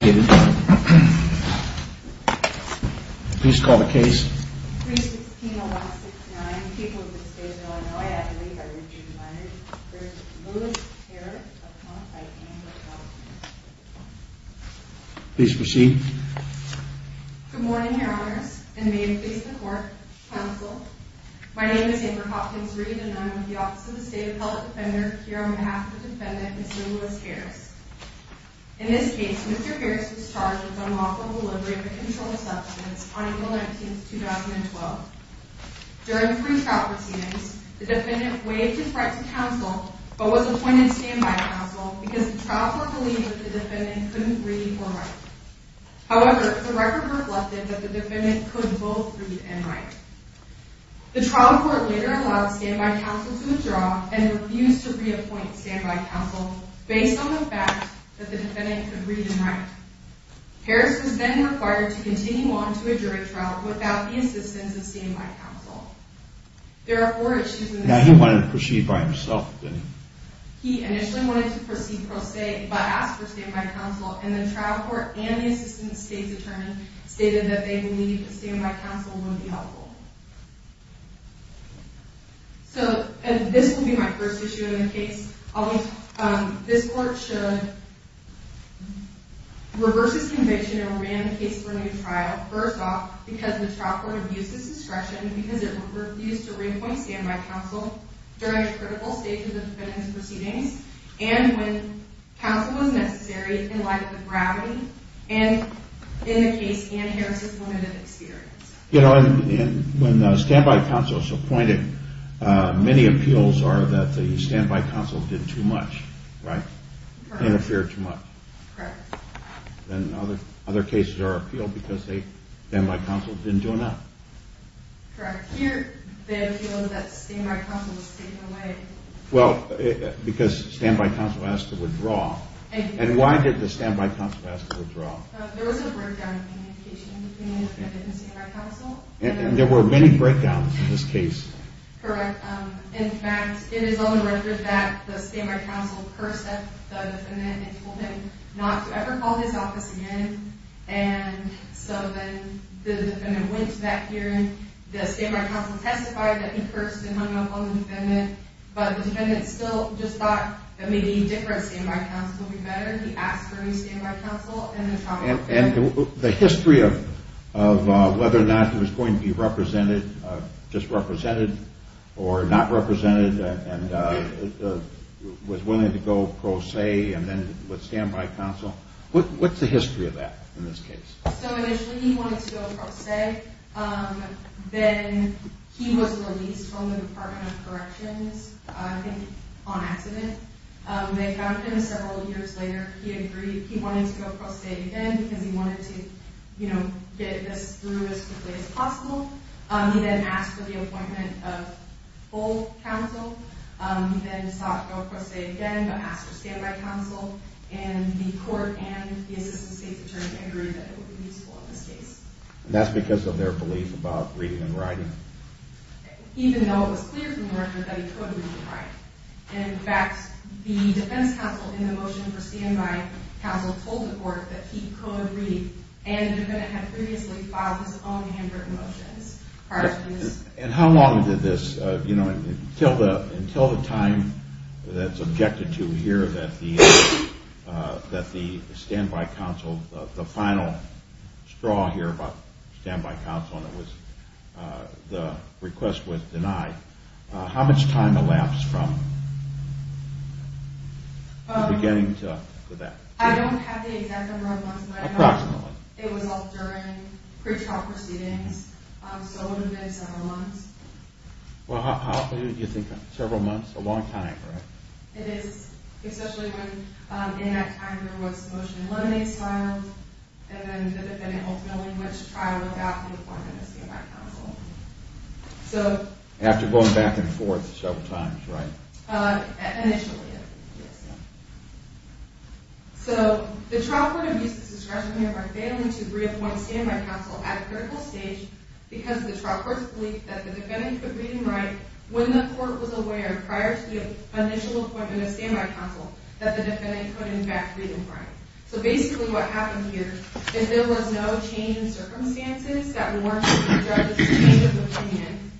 Good morning, Your Honors, and may it please the Court, Counsel, my name is Amber Hopkins Reed and I am with the Office of the State Appellate Defender here on behalf of the defendant and civilist Harris. In this case, Mr. Harris was charged with unlawful delivery of a controlled substance on April 19, 2012. During pre-trial proceedings, the defendant waived his right to counsel, but was appointed standby counsel because the trial court believed that the defendant couldn't read or write. However, the record reflected that the defendant could both read and write. The trial court later allowed standby counsel to withdraw and refused to reappoint standby counsel based on the fact that the defendant could read and write. Harris was then required to continue on to a jury trial without the assistance of standby counsel. There are four issues in this case. Now he wanted to proceed by himself, didn't he? He initially wanted to proceed pro se, but asked for standby counsel and the trial court and the assistant state's attorney stated that they believed that standby counsel would be helpful. So this will be my first issue in the case. This court should reverse its conviction and remand the case for a new trial. First off, because the trial court abused its discretion because it refused to reappoint standby counsel during critical stages of the defendant's proceedings and when counsel was necessary in light of the gravity and in the case and Harris's moment of experience. You know, when standby counsel is appointed, many appeals are that the standby counsel did too much, right? Interfered too much. Correct. And other cases are appealed because the standby counsel didn't do enough. Correct. Here, the appeal is that standby counsel was taken away. Well, because standby counsel asked to withdraw. And why did the standby counsel ask to withdraw? There was a breakdown in communication between the defendant and standby counsel. And there were many breakdowns in this case. Correct. In fact, it is on the record that the standby counsel cursed at the defendant and told him not to ever call this office again. And so then the defendant went back here and the standby counsel testified that he had been cursed and hung up on the defendant, but the defendant still just thought that maybe a different standby counsel would be better. He asked for a new standby counsel and the trial court failed. And the history of whether or not he was going to be represented, just represented or not represented and was willing to go pro se and then with standby counsel, what's the history of that in this case? So initially he wanted to go pro se. Then he was released from the Department of Corrections, I think, on accident. They found him several years later. He agreed. He wanted to go pro se again because he wanted to, you know, get this through as quickly as possible. He then asked for the appointment of full counsel. He then sought go pro se again but asked for standby counsel. And the court and the assistant state's attorney agreed that it would be useful in this case. And that's because of their belief about reading and writing? Even though it was clear from the record that he could read and write. In fact, the defense counsel in the motion for standby counsel told the court that he could read and the defendant had previously filed his own handwritten motions. And how long did this, you know, until the time that's objected to here that the standby counsel, the final straw here about standby counsel and it was the request was denied, how much time elapsed from the beginning to that? I don't have the exact number of months. Approximately. It was all during pretrial proceedings. So it would have been several months. Well, how long do you think, several months? A long time, right? It is, especially when in that time there was a motion in lemonade style and then the defendant ultimately went to trial without the appointment of standby counsel. After going back and forth several times, right? Initially, yes. So the trial court abused the discretionary of our family to reappoint standby counsel at a critical stage because the trial court's belief that the defendant could read and write when the court was aware prior to the initial appointment of standby counsel that the defendant could in fact read and write. So basically what happened here is there was no change in circumstances that warranted the judge's change of opinion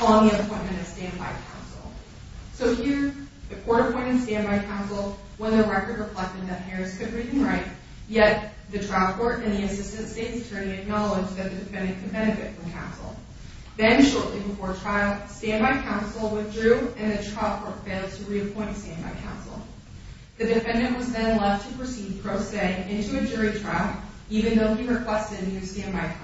on the appointment of standby counsel. So here the court appointed standby counsel when the record reflected that Harris could read and write, yet the trial court and the assistant state attorney acknowledged that the defendant could benefit from counsel. Then shortly before trial, standby counsel withdrew and the trial court failed to reappoint standby counsel. The defendant was then left to proceed pro se into a jury trial even though he requested new standby counsel.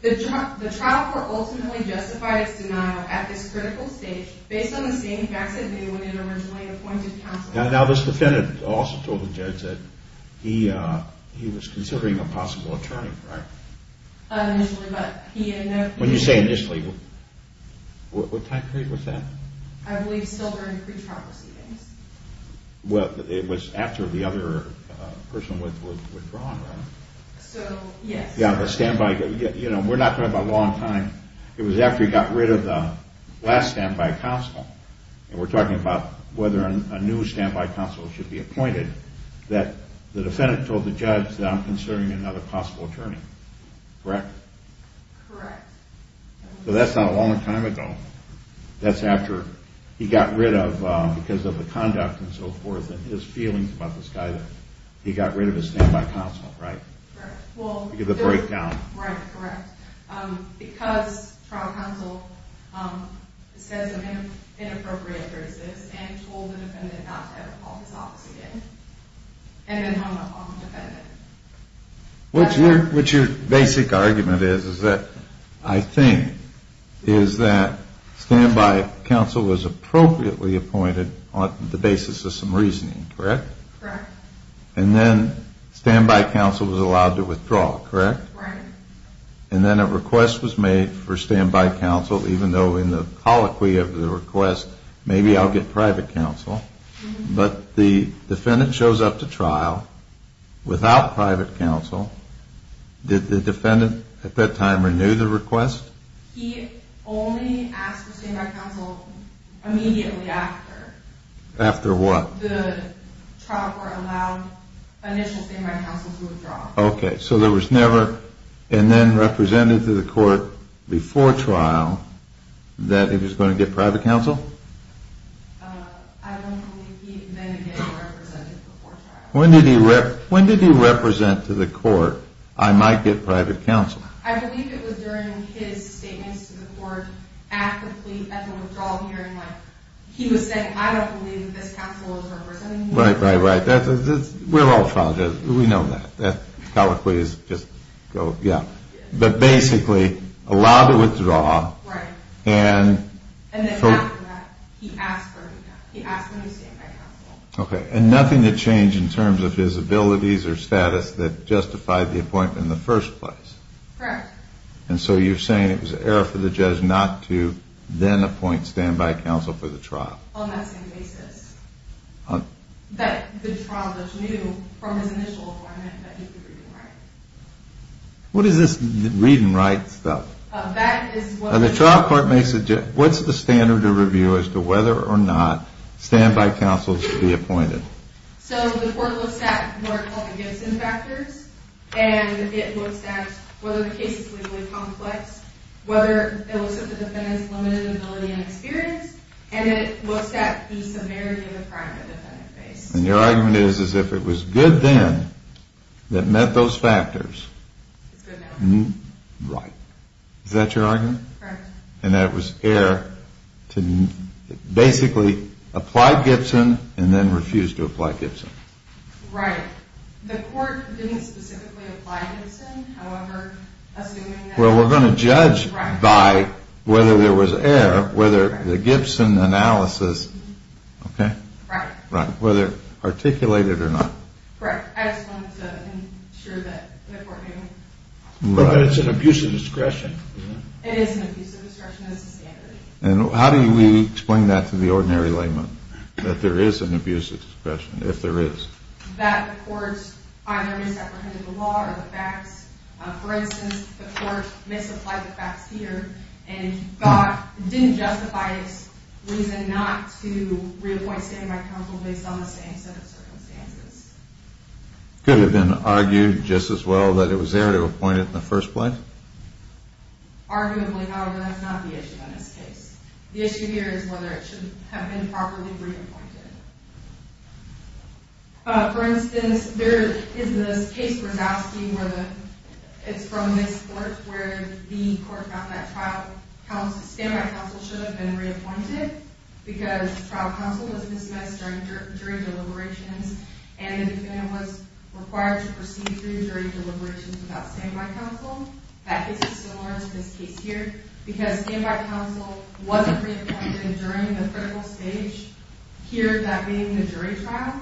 The trial court ultimately justified its denial at this critical stage based on the same facts it knew when it originally appointed counsel. Now this defendant also told the judge that he was considering a possible attorney, right? Initially, but he had no... When you say initially, what time period was that? I believe silver and pre-trial proceedings. Well, it was after the other person withdrew, right? So, yes. Yeah, the standby, you know, we're not talking about a long time. It was after he got rid of the last standby counsel, and we're talking about whether a new standby counsel should be appointed, that the defendant told the judge that I'm considering another possible attorney, correct? Correct. So that's not a long time ago. That's after he got rid of, because of the conduct and so forth and his feelings about this guy that he got rid of his standby counsel, right? Correct. Because of the breakdown. Right, correct. Because trial counsel says inappropriate phrases and told the defendant not to ever call his office again, and then hung up on the defendant. What your basic argument is, is that, I think, is that standby counsel was appropriately appointed on the basis of some reasoning, correct? Correct. And then standby counsel was allowed to withdraw, correct? Correct. And then a request was made for standby counsel, even though in the colloquy of the request, maybe I'll get private counsel, but the defendant shows up to trial without private counsel. Did the defendant at that time renew the request? He only asked for standby counsel immediately after. After what? The trial court allowed initial standby counsel to withdraw. Okay. So there was never, and then represented to the court before trial, that he was going to get private counsel? I don't believe he then again represented before trial. When did he represent to the court, I might get private counsel? I believe it was during his statements to the court at the plea, at the withdrawal hearing. He was saying, I don't believe this counsel is representing me. Right, right, right. We're all trial judges. We know that. That colloquy is just, yeah. But basically, allowed to withdraw. Right. And then after that, he asked for standby counsel. Okay. And nothing had changed in terms of his abilities or status that justified the appointment in the first place? Correct. And so you're saying it was an error for the judge not to then appoint standby counsel for the trial? On that same basis. That the trial judge knew from his initial appointment that he could read and write. What is this read and write stuff? The trial court makes a, what's the standard of review as to whether or not standby counsel should be appointed? So the court looks at more complicated factors, and it looks at whether the case is legally complex, whether it looks at the defendant's limited ability and experience, and it looks at the severity of the crime the defendant faced. And your argument is, is if it was good then that met those factors. It's good now. Right. Is that your argument? Correct. And that was error to basically apply Gibson and then refuse to apply Gibson. Right. The court didn't specifically apply Gibson, however, assuming that. Well, we're going to judge by whether there was error, whether the Gibson analysis, okay? Right. Whether articulated or not. Correct. I just wanted to ensure that the court knew. But it's an abuse of discretion. It is an abuse of discretion as a standard. And how do we explain that to the ordinary layman, that there is an abuse of discretion, if there is? That the court either misapprehended the law or the facts. For instance, the court misapplied the facts here and didn't justify its reason not to reappoint stand-by counsel based on the same set of circumstances. Could it have been argued just as well that it was error to appoint it in the first place? Arguably, however, that's not the issue in this case. The issue here is whether it should have been properly reappointed. For instance, there is this case, Grozowski, where it's from this court where the court found that stand-by counsel should have been reappointed because trial counsel was dismissed during jury deliberations and the defendant was required to proceed through jury deliberations without stand-by counsel. That case is similar to this case here because stand-by counsel wasn't reappointed during the critical stage here, that being the jury trial.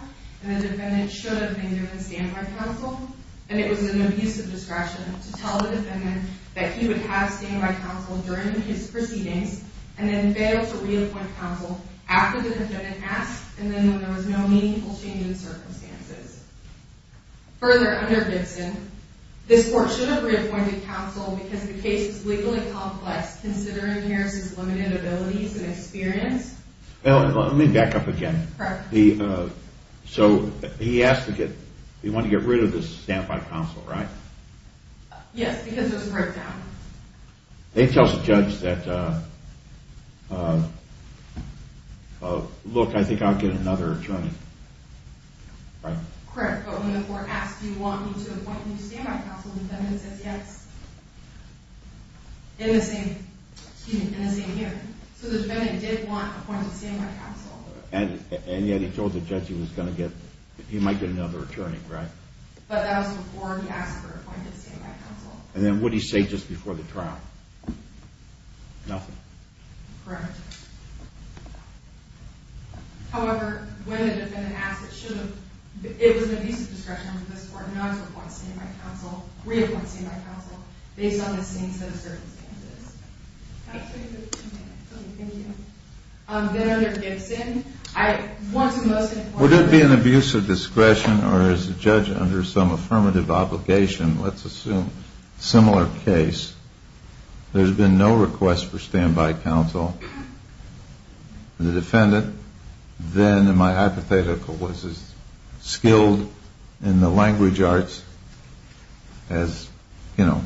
And the defendant should have been given stand-by counsel. And it was an abuse of discretion to tell the defendant that he would have stand-by counsel during his proceedings and then fail to reappoint counsel after the defendant asked and then when there was no meaningful change in circumstances. Further, under Gibson, this court should have reappointed counsel because the case is legally complex, considering Harris's limited abilities and experience. Let me back up again. Correct. So he asked to get, he wanted to get rid of this stand-by counsel, right? Yes, because there was a breakdown. They tell the judge that, look, I think I'll get another attorney, right? Correct, but when the court asked, do you want me to appoint a new stand-by counsel, the defendant says yes in the same hearing. So the defendant did want appointed stand-by counsel. And yet he told the judge he was going to get, he might get another attorney, right? But that was before he asked for appointed stand-by counsel. And then what did he say just before the trial? Nothing. Correct. However, when the defendant asked, it should have, it was an abuse of discretion for this court not to appoint stand-by counsel, reappoint stand-by counsel, based on the same set of circumstances. Can I take a minute? Okay, thank you. Then under Gibson, I want to most importantly Would it be an abuse of discretion or is the judge under some affirmative obligation? Let's assume a similar case. There's been no request for stand-by counsel. The defendant then, in my hypothetical, was as skilled in the language arts as, you know,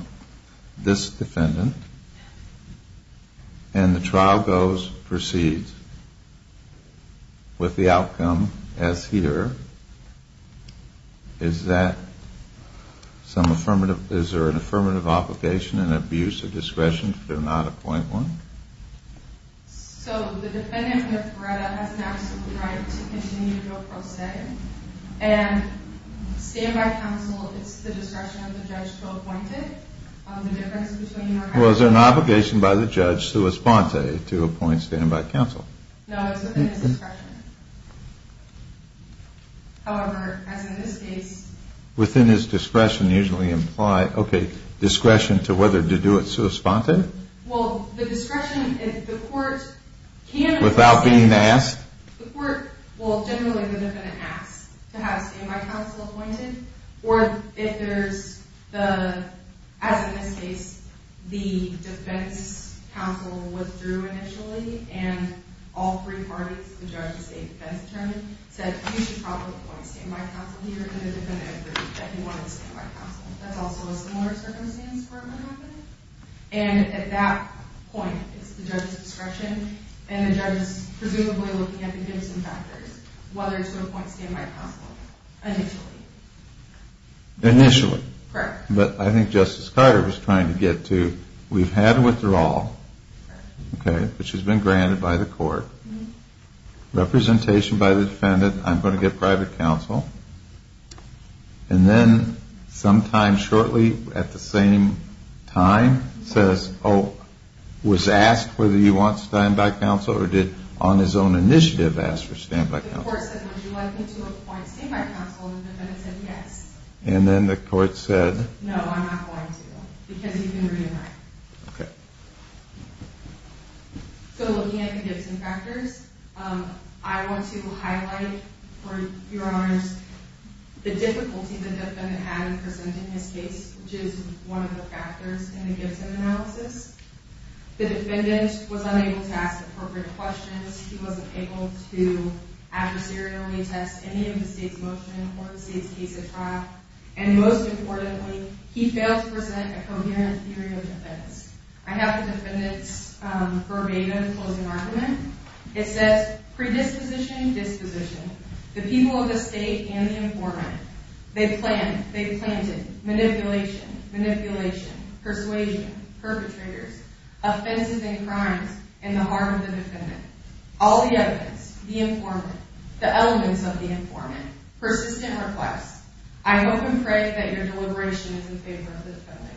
this defendant. And the trial goes, proceeds with the outcome as here. Is that some affirmative, is there an affirmative obligation, an abuse of discretion to not appoint one? So the defendant with Veretta has an absolute right to continue to go pro se. And stand-by counsel, it's the discretion of the judge to appoint it. The difference between or has to be Well, is there an obligation by the judge, sua sponte, to appoint stand-by counsel? No, it's within his discretion. However, as in this case Within his discretion usually imply, okay, discretion to whether to do it sua sponte? Well, the discretion, if the court can Without being asked? The court will generally, the defendant asks to have stand-by counsel appointed. Or if there's the, as in this case, the defense counsel withdrew initially And all three parties, the judge, the state defense attorney, said You should probably appoint stand-by counsel here. And the defendant agreed that he wanted stand-by counsel. That's also a similar circumstance for Veretta. And at that point, it's the judge's discretion. And the judge is presumably looking at the Gibson factors. Whether to appoint stand-by counsel initially. Initially. Correct. But I think Justice Carter was trying to get to We've had a withdrawal, okay, which has been granted by the court. Representation by the defendant. I'm going to get private counsel. And then sometime shortly at the same time Says, oh, was asked whether he wants stand-by counsel Or did on his own initiative ask for stand-by counsel. The court said, would you like me to appoint stand-by counsel? And the defendant said, yes. And then the court said, no, I'm not going to. Because you can reenact. Okay. So looking at the Gibson factors, I want to highlight, for your honors The difficulty the defendant had in presenting his case Which is one of the factors in the Gibson analysis. The defendant was unable to ask appropriate questions. He wasn't able to adversarially test any of the state's motion Or the state's case at trial. And most importantly, he failed to present a coherent theory of defense. I have the defendant's verbatim closing argument. It says, predisposition, disposition. The people of the state and the informant. They planned, they planted, manipulation, manipulation, persuasion, perpetrators Offenses and crimes in the heart of the defendant. All the evidence. The informant. The elements of the informant. Persistent requests. I hope and pray that your deliberation is in favor of the defendant.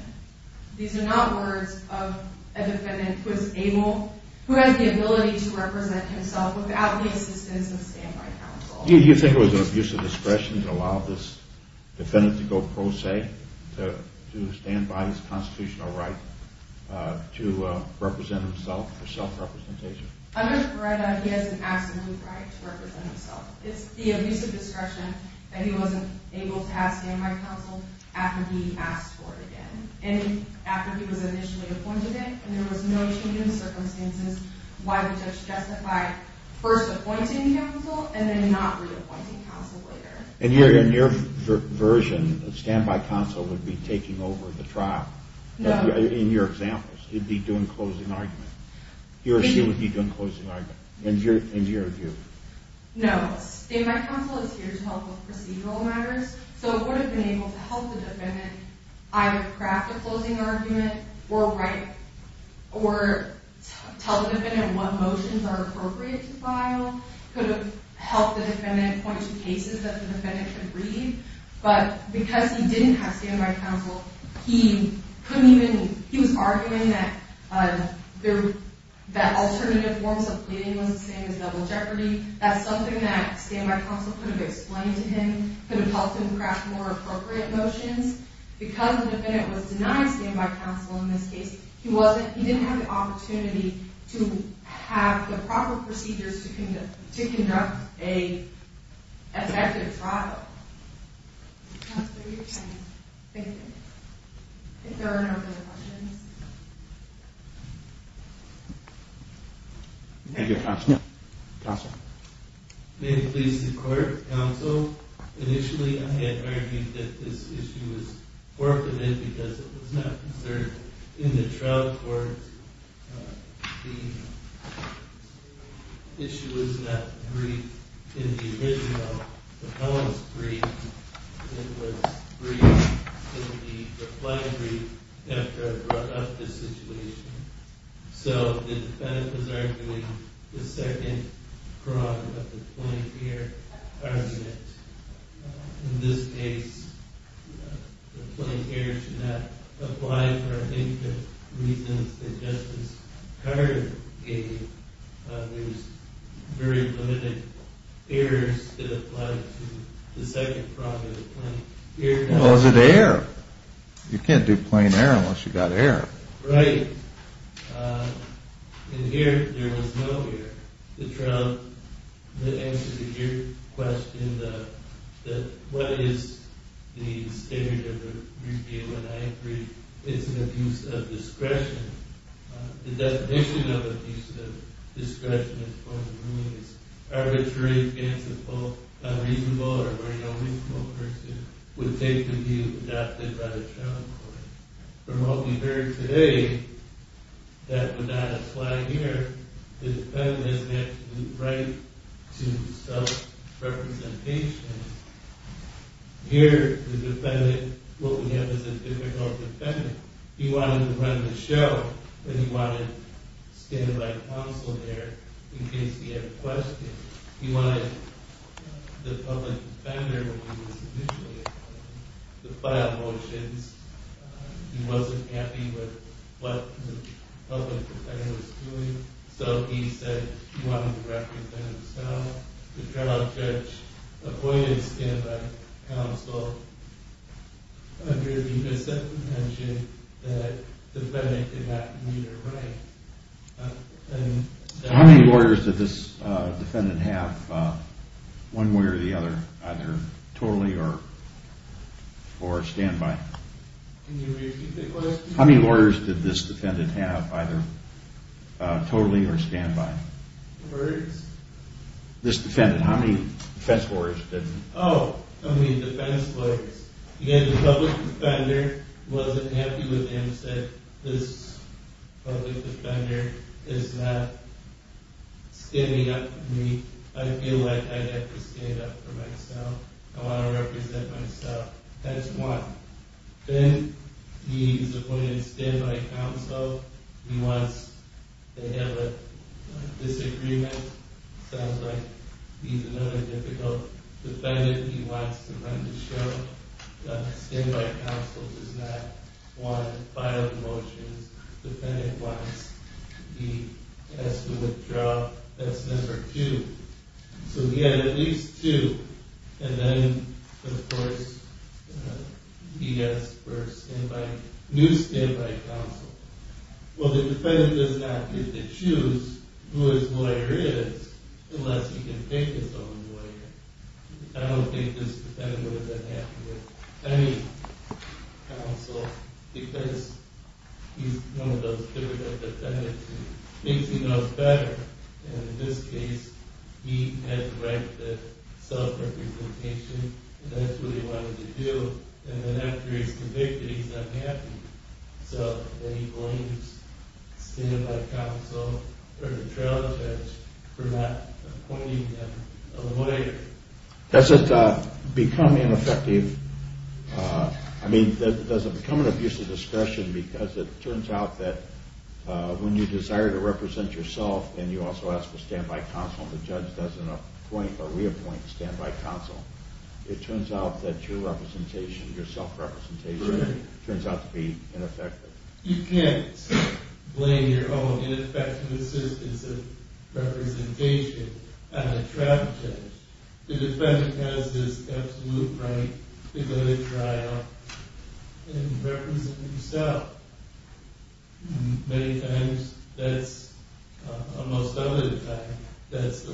These are not words of a defendant who has the ability to represent himself Without the assistance of stand-by counsel. Do you think it was an abuse of discretion to allow this defendant to go pro se? To stand by his constitutional right to represent himself for self-representation? Under Beretta, he has an absolute right to represent himself. It's the abuse of discretion that he wasn't able to have stand-by counsel After he asked for it again. And after he was initially appointed it And there was no change in circumstances Why the judge justified first appointing counsel And then not reappointing counsel later. In your version, stand-by counsel would be taking over the trial. In your examples. He'd be doing closing argument. He or she would be doing closing argument. In your view. No. Stand-by counsel is here to help with procedural matters. So it would have been able to help the defendant either craft a closing argument Or tell the defendant what motions are appropriate to file. Could have helped the defendant point to cases that the defendant could read. But because he didn't have stand-by counsel He was arguing that alternative forms of pleading was the same as double jeopardy. That's something that stand-by counsel could have explained to him. Could have helped him craft more appropriate motions. Because the defendant was denied stand-by counsel in this case He didn't have the opportunity to have the proper procedures to conduct an effective trial. Counselor, your time is up. Thank you. If there are no further questions. Thank you, Counselor. Counselor. May it please the court. Counsel, initially I had argued that this issue was forfeited Because it was not concerned in the trial court. The issue was not briefed in the original. The poem was briefed. It was briefed in the reply brief after I brought up this situation. So the defendant was arguing the second part of the point here. In this case, the plain air should not apply for I think the reasons that Justice Carter gave. There was very limited airs that applied to the second part of the point. Well, is it air? You can't do plain air unless you've got air. Right. In here, there was no air. The trial, the answer to your question, that what is the standard of the brief deal And I agree it's an abuse of discretion. The definition of abuse of discretion is arbitrary, fanciful, unreasonable, or very unreasonable person Would take the view adopted by the trial court. From what we've heard today, that would not apply here. The defendant has an absolute right to self-representation. Here, the defendant, what we have is a difficult defendant. He wanted to run the show, but he wanted stand-by counsel there in case he had questions. He wanted the public defender when he was initiating the file motions. He wasn't happy with what the public defender was doing, so he said he wanted to represent himself. The trial judge appointed stand-by counsel under the presumption that the defendant did not need a rank. How many lawyers did this defendant have, one way or the other, either totally or stand-by? Can you repeat the question? How many lawyers did this defendant have, either totally or stand-by? Lawyers? This defendant, how many defense lawyers did he have? Oh, how many defense lawyers. Again, the public defender wasn't happy with him, said this public defender is not standing up for me. I feel like I have to stand up for myself. I want to represent myself. That's one. Then, he's appointed stand-by counsel. He wants to have a disagreement. Sounds like he's another difficult defendant. He wants to run the show. Stand-by counsel does not want to file the motions. Defendant wants to withdraw. That's number two. He had at least two. Then, of course, he asked for a new stand-by counsel. Well, the defendant does not get to choose who his lawyer is unless he can pick his own lawyer. I don't think this defendant would have been happy with any counsel because he's one of those difficult defendants. He thinks he knows better. In this case, he had to write the self-representation. That's what he wanted to do. Then, after he's convicted, he's unhappy. Then, he blames stand-by counsel or the trail judge for not appointing him a lawyer. Does it become ineffective? I mean, does it become an abuse of discretion because it turns out that when you desire to represent yourself and you also ask for stand-by counsel, the judge doesn't appoint or reappoint stand-by counsel. It turns out that your self-representation turns out to be ineffective. You can't blame your own ineffective assistance of representation on the trail judge. The defendant has this absolute right to go to trial and represent himself. Many times, that's the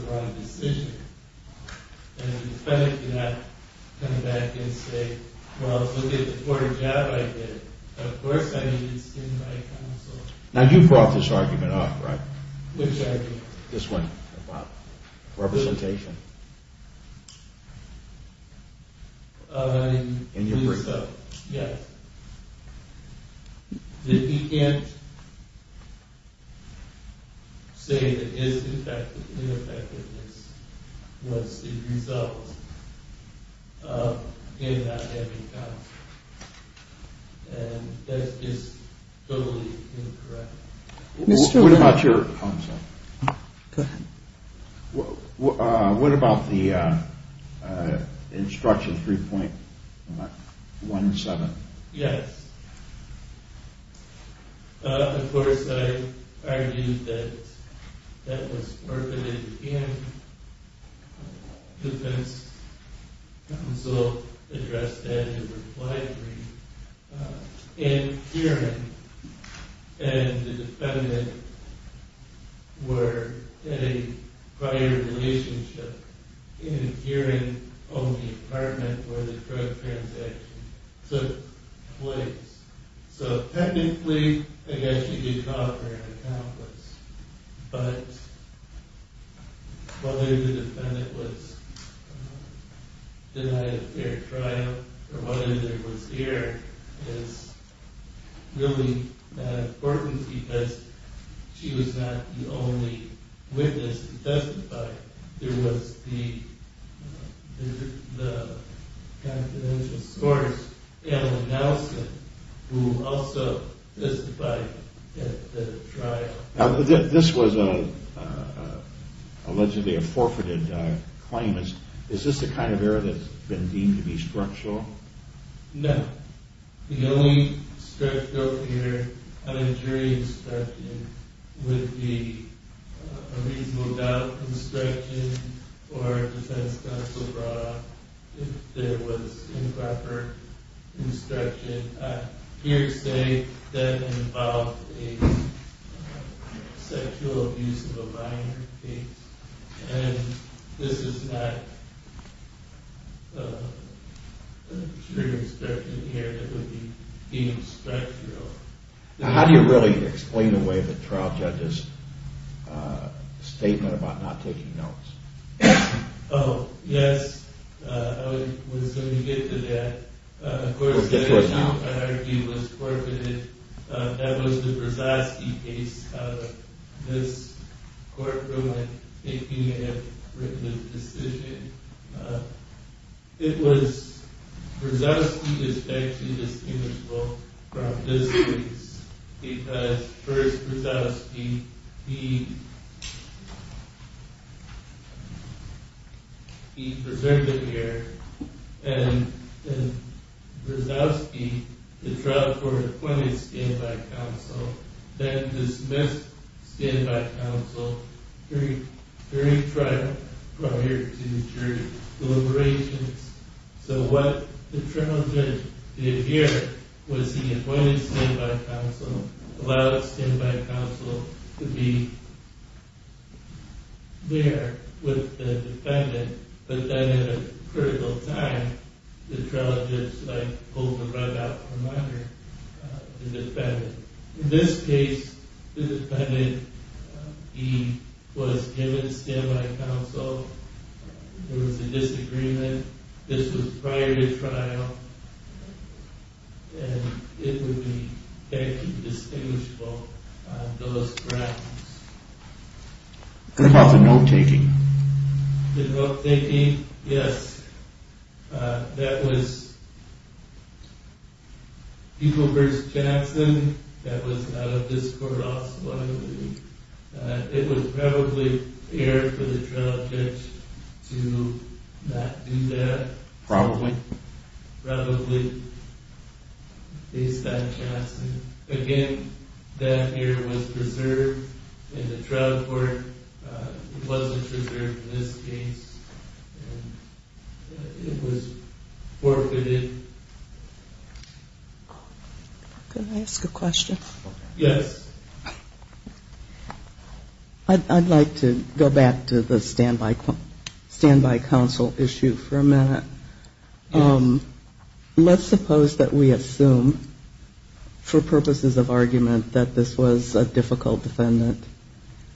wrong decision. The defendant cannot come back and say, well, look at the poor job I did. Of course, I needed stand-by counsel. Now, you brought this argument up, right? Which argument? This one. Wow. Representation. In your brief. Yes. He can't say that his ineffectiveness was the result of him not having counsel. And that is totally incorrect. What about your counsel? Go ahead. What about the instruction 3.17? Yes. Of course, I argued that that was worth it in defense. Counsel addressed that in reply to me in hearing. And the defendant were in a prior relationship in a hearing on the apartment where the drug transaction took place. So, technically, I guess you could call her an accomplice. But whether the defendant was denied a fair trial or whether there was error is really not important because she was not the only witness to testify. There was the confidential source, Anna Nelson, who also testified at the trial. Now, this was allegedly a forfeited claim. Is this the kind of error that's been deemed to be structural? No. The only structural error on a jury instruction would be a reasonable doubt instruction or defense counsel brought up if there was improper instruction. I hear you say that involved a sexual abuse of a minor case. And this is not a jury instruction error that would be deemed structural. Now, how do you really explain away the trial judge's statement about not taking notes? Oh, yes. I was going to get to that. Of course, the account I argued was forfeited. That was the Brzozowski case out of this courtroom, if you may have written the decision. Brzozowski is actually distinguishable from this case because, first, Brzozowski, he presented here. And Brzozowski, the trial court appointed stand-by counsel, then dismissed stand-by counsel during trial prior to jury deliberations. So what the trial judge did here was he appointed stand-by counsel, allowed stand-by counsel to be there with the defendant. But then at a critical time, the trial judge pulled the rug out from under the defendant. In this case, the defendant, he was given stand-by counsel. There was a disagreement. This was prior to trial, and it would be actually distinguishable on those grounds. What about the note-taking? The note-taking? Yes. That was Equal Verts Jackson. That was out of this court also, I believe. It was probably fair for the trial judge to not do that. Probably? Probably. Again, that error was preserved in the trial court. It wasn't preserved in this case. It was forfeited. Can I ask a question? Yes. I'd like to go back to the stand-by counsel issue for a minute. Let's suppose that we assume, for purposes of argument, that this was a difficult defendant,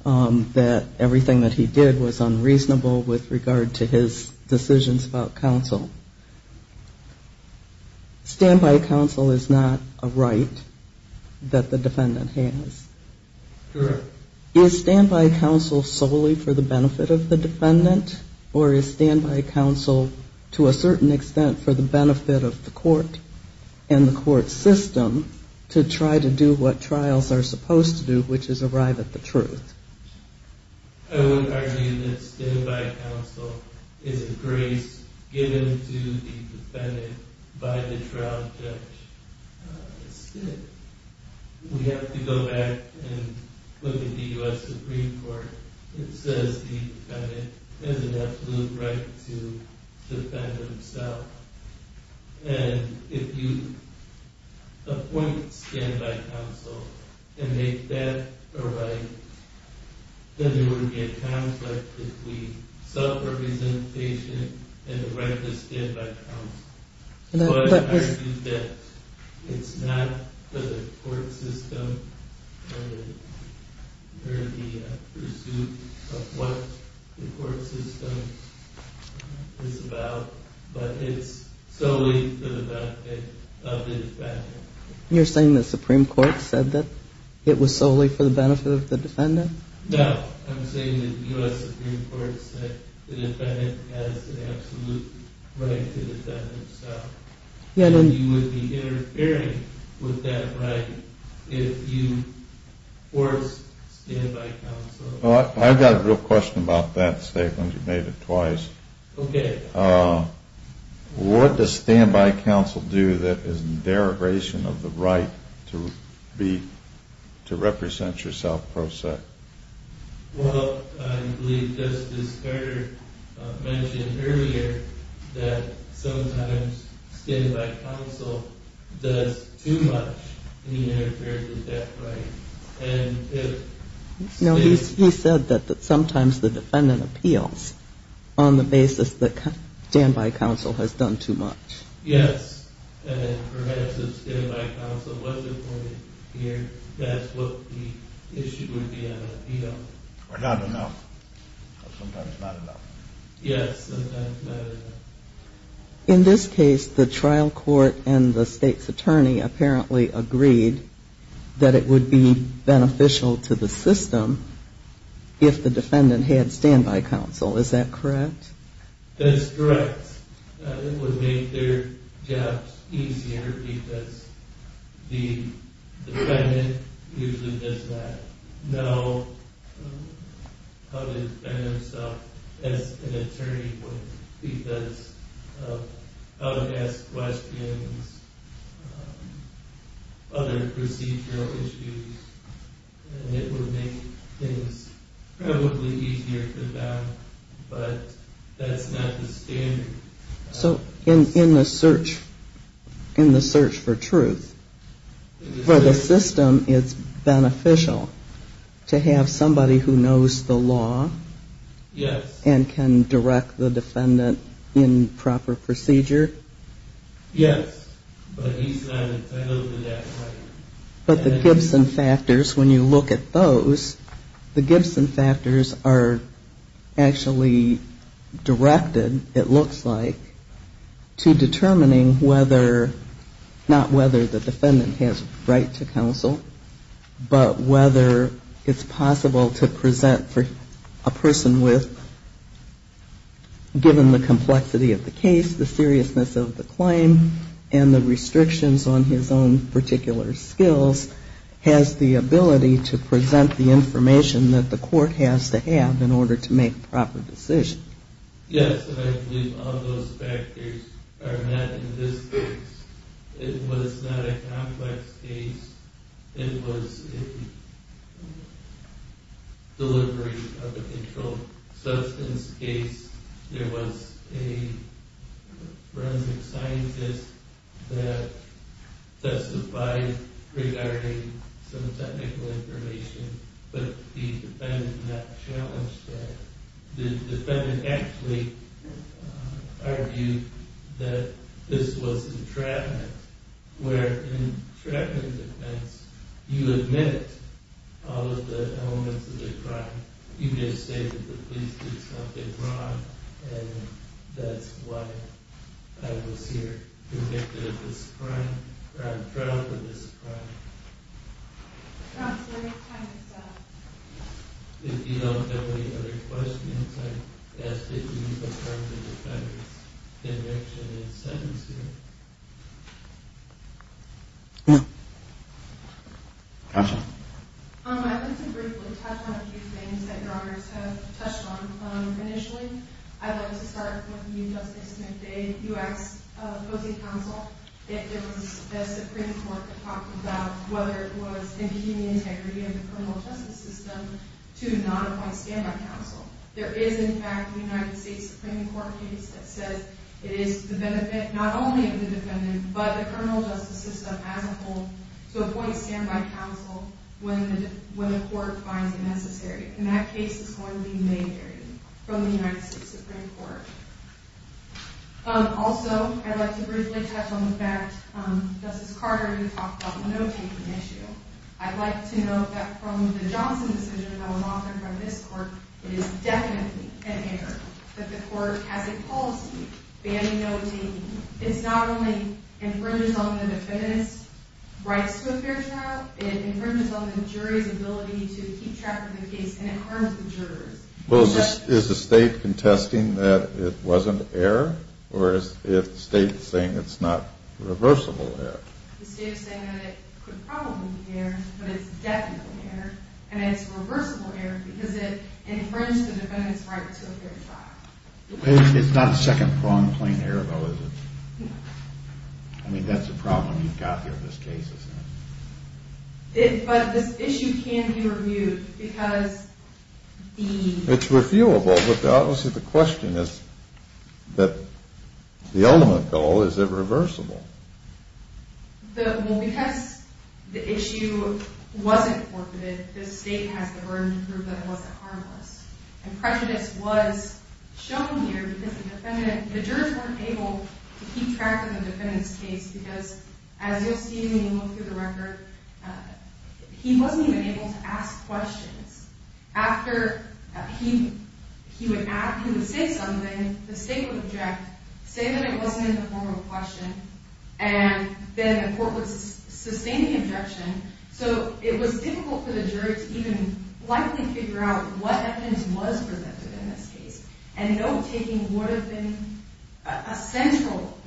that everything that he did was unreasonable with regard to his decisions about counsel. Stand-by counsel is not a right that the defendant has. Correct. Is stand-by counsel solely for the benefit of the defendant, or is stand-by counsel to a certain extent for the benefit of the court and the court system to try to do what trials are supposed to do, which is arrive at the truth? I would argue that stand-by counsel is a grace given to the defendant by the trial judge instead. We have to go back and look at the U.S. Supreme Court. It says the defendant has an absolute right to defend himself. If you appoint stand-by counsel and make that a right, then there would be a conflict if we self-represent the patient and erect a stand-by counsel. But I argue that it's not for the court system or the pursuit of what the court system is about, but it's solely for the benefit of the defendant. You're saying the Supreme Court said that it was solely for the benefit of the defendant? No. I'm saying the U.S. Supreme Court said the defendant has an absolute right to defend himself. You would be interfering with that right if you forced stand-by counsel. I've got a real question about that statement. You made it twice. Okay. What does stand-by counsel do that is in derogation of the right to represent yourself, per se? Well, I believe Justice Carter mentioned earlier that sometimes stand-by counsel does too much to interfere with that right. No, he said that sometimes the defendant appeals on the basis that stand-by counsel has done too much. Yes, and perhaps if stand-by counsel wasn't appointed here, that's what the issue would be on appeal. Or not enough, or sometimes not enough. Yes, sometimes not enough. In this case, the trial court and the state's attorney apparently agreed that it would be beneficial to the system if the defendant had stand-by counsel. Is that correct? That's correct. It would make their jobs easier because the defendant usually does not know how to defend himself as an attorney would because of how to ask questions, other procedural issues, and it would make things probably easier for them. But that's not the standard. So in the search for truth, for the system it's beneficial to have somebody who knows the law? Yes. And can direct the defendant in proper procedure? Yes, but he's not entitled to that right. But the Gibson factors, when you look at those, the Gibson factors are actually directed, it looks like, to determining whether, not whether the defendant has right to counsel, but whether it's possible to present a person with, given the complexity of the case, the seriousness of the claim, and the restrictions on his own particular skills, has the ability to present the information that the court has to have in order to make a proper decision. Yes, and I believe all those factors are met in this case. It was not a complex case. It was a deliberation of a controlled substance case. There was a forensic scientist that testified regarding some technical information, but the defendant not challenged that. The defendant actually argued that this was entrapment, where in entrapment defense, you admit all of the elements of the crime. You just say that the police did something wrong, and that's why I was here, convicted of this crime, or I'm trialed for this crime. That's the kind of stuff. If you don't have any other questions, I ask that you confirm the defendant's conviction and sentence here. No. Counsel? I'd like to briefly touch on a few things that Your Honors have touched on initially. I'd like to start with you, Justice McDade. You asked opposing counsel if there was a Supreme Court that talked about whether it was impugning integrity of the criminal justice system to not apply stand-by counsel. There is, in fact, a United States Supreme Court case that says it is the benefit not only of the defendant, but the criminal justice system as a whole, to appoint stand-by counsel when the court finds it necessary. And that case is going to be majored from the United States Supreme Court. Also, I'd like to briefly touch on the fact Justice Carter talked about the no-taking issue. I'd like to note that from the Johnson decision that was offered by this court, it is definitely an error that the court has a policy banning no-taking. It not only infringes on the defendant's rights to a fair trial, it infringes on the jury's ability to keep track of the case, and it harms the jurors. Well, is the state contesting that it wasn't error, or is the state saying it's not reversible error? The state is saying that it could probably be error, but it's definitely error, and it's reversible error because it infringes the defendant's right to a fair trial. It's not second-pronged plain error, though, is it? No. I mean, that's a problem you've got here in this case, isn't it? But this issue can be reviewed because the... Well, because the issue wasn't forfeited, the state has the burden to prove that it wasn't harmless. And prejudice was shown here because the jurors weren't able to keep track of the defendant's case because, as you'll see when you look through the record, he wasn't even able to ask questions. After he would say something, the state would object, say that it wasn't in the form of a question, and then the court would sustain the objection. So it was difficult for the jury to even likely figure out what evidence was presented in this case, and note-taking would have been a central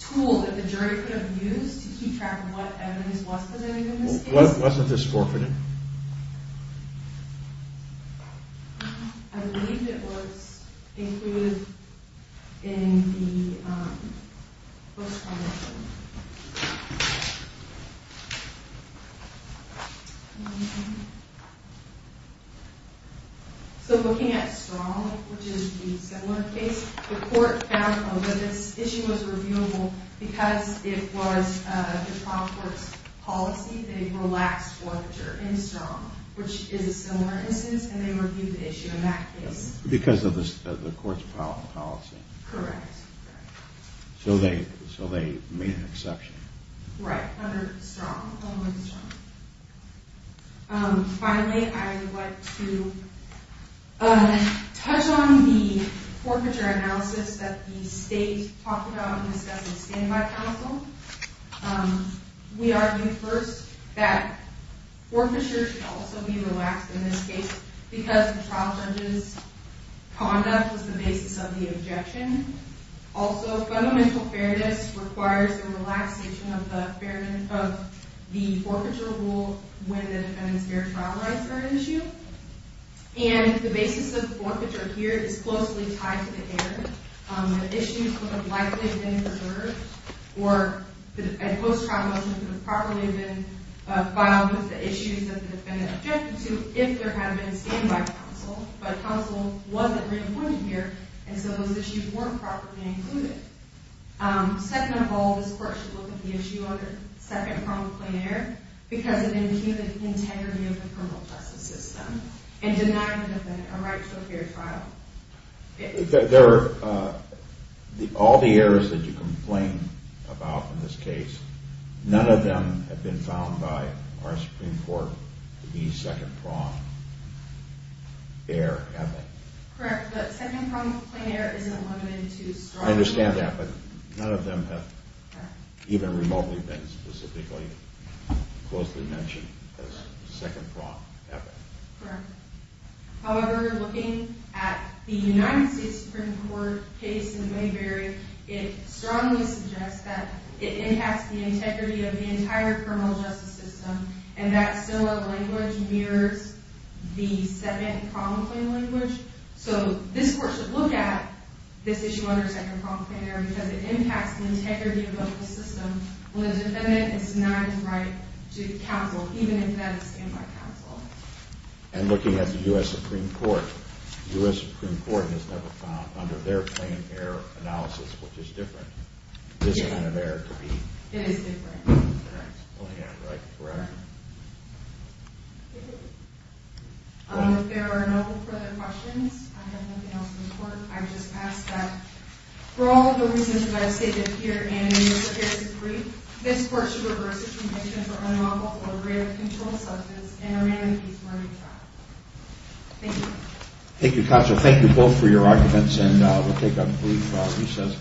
tool that the jury could have used to keep track of what evidence was presented in this case. So wasn't this forfeited? I believe it was included in the post-conviction. So looking at Strong, which is a similar case, the court found that this issue was reviewable because it was the trial court's policy. They relaxed forfeiture in Strong, which is a similar instance, and they reviewed the issue in that case. Because of the court's policy? Correct. So they made an exception? Right, under Strong. Finally, I would like to touch on the forfeiture analysis that the state talked about in the Standing By Council. We argued first that forfeiture should also be relaxed in this case because the trial judge's conduct was the basis of the objection. Also, fundamental fairness requires the relaxation of the forfeiture rule when the defendant's fair trial rights are at issue. And the basis of the forfeiture here is closely tied to the error. The issue could have likely been preserved, or a post-trial motion could have probably been filed with the issues that the defendant objected to if there had been a Standing By Council. But a council wasn't reappointed here, and so those issues weren't properly included. Second of all, this court should look at the issue under second pronged plain error because it impugned integrity of the criminal justice system and denied the defendant a right to a fair trial. There are all the errors that you complain about in this case. None of them have been found by our Supreme Court to be second pronged error, have they? Correct, but second pronged plain error isn't limited to Strong. I understand that, but none of them have even remotely been specifically, closely mentioned as second pronged error. Correct. However, looking at the United States Supreme Court case in Mayberry, it strongly suggests that it impacts the integrity of the entire criminal justice system, and that similar language mirrors the second pronged plain error language. So, this court should look at this issue under second pronged plain error because it impacts the integrity of the criminal justice system when the defendant is denied a right to counsel, even if that is Standing By Council. And looking at the U.S. Supreme Court, the U.S. Supreme Court has never found under their plain error analysis, which is different, this kind of error to be. It is different. That's plain error, correct? Correct. If there are no further questions, I have nothing else in court. I would just ask that for all of the reasons that I've stated here and in your various briefs, this court should reverse its conviction for unlawful or brevity control, such as in a random case where he tried. Thank you. Thank you, counsel. Thank you both for your arguments, and we'll take a brief recess.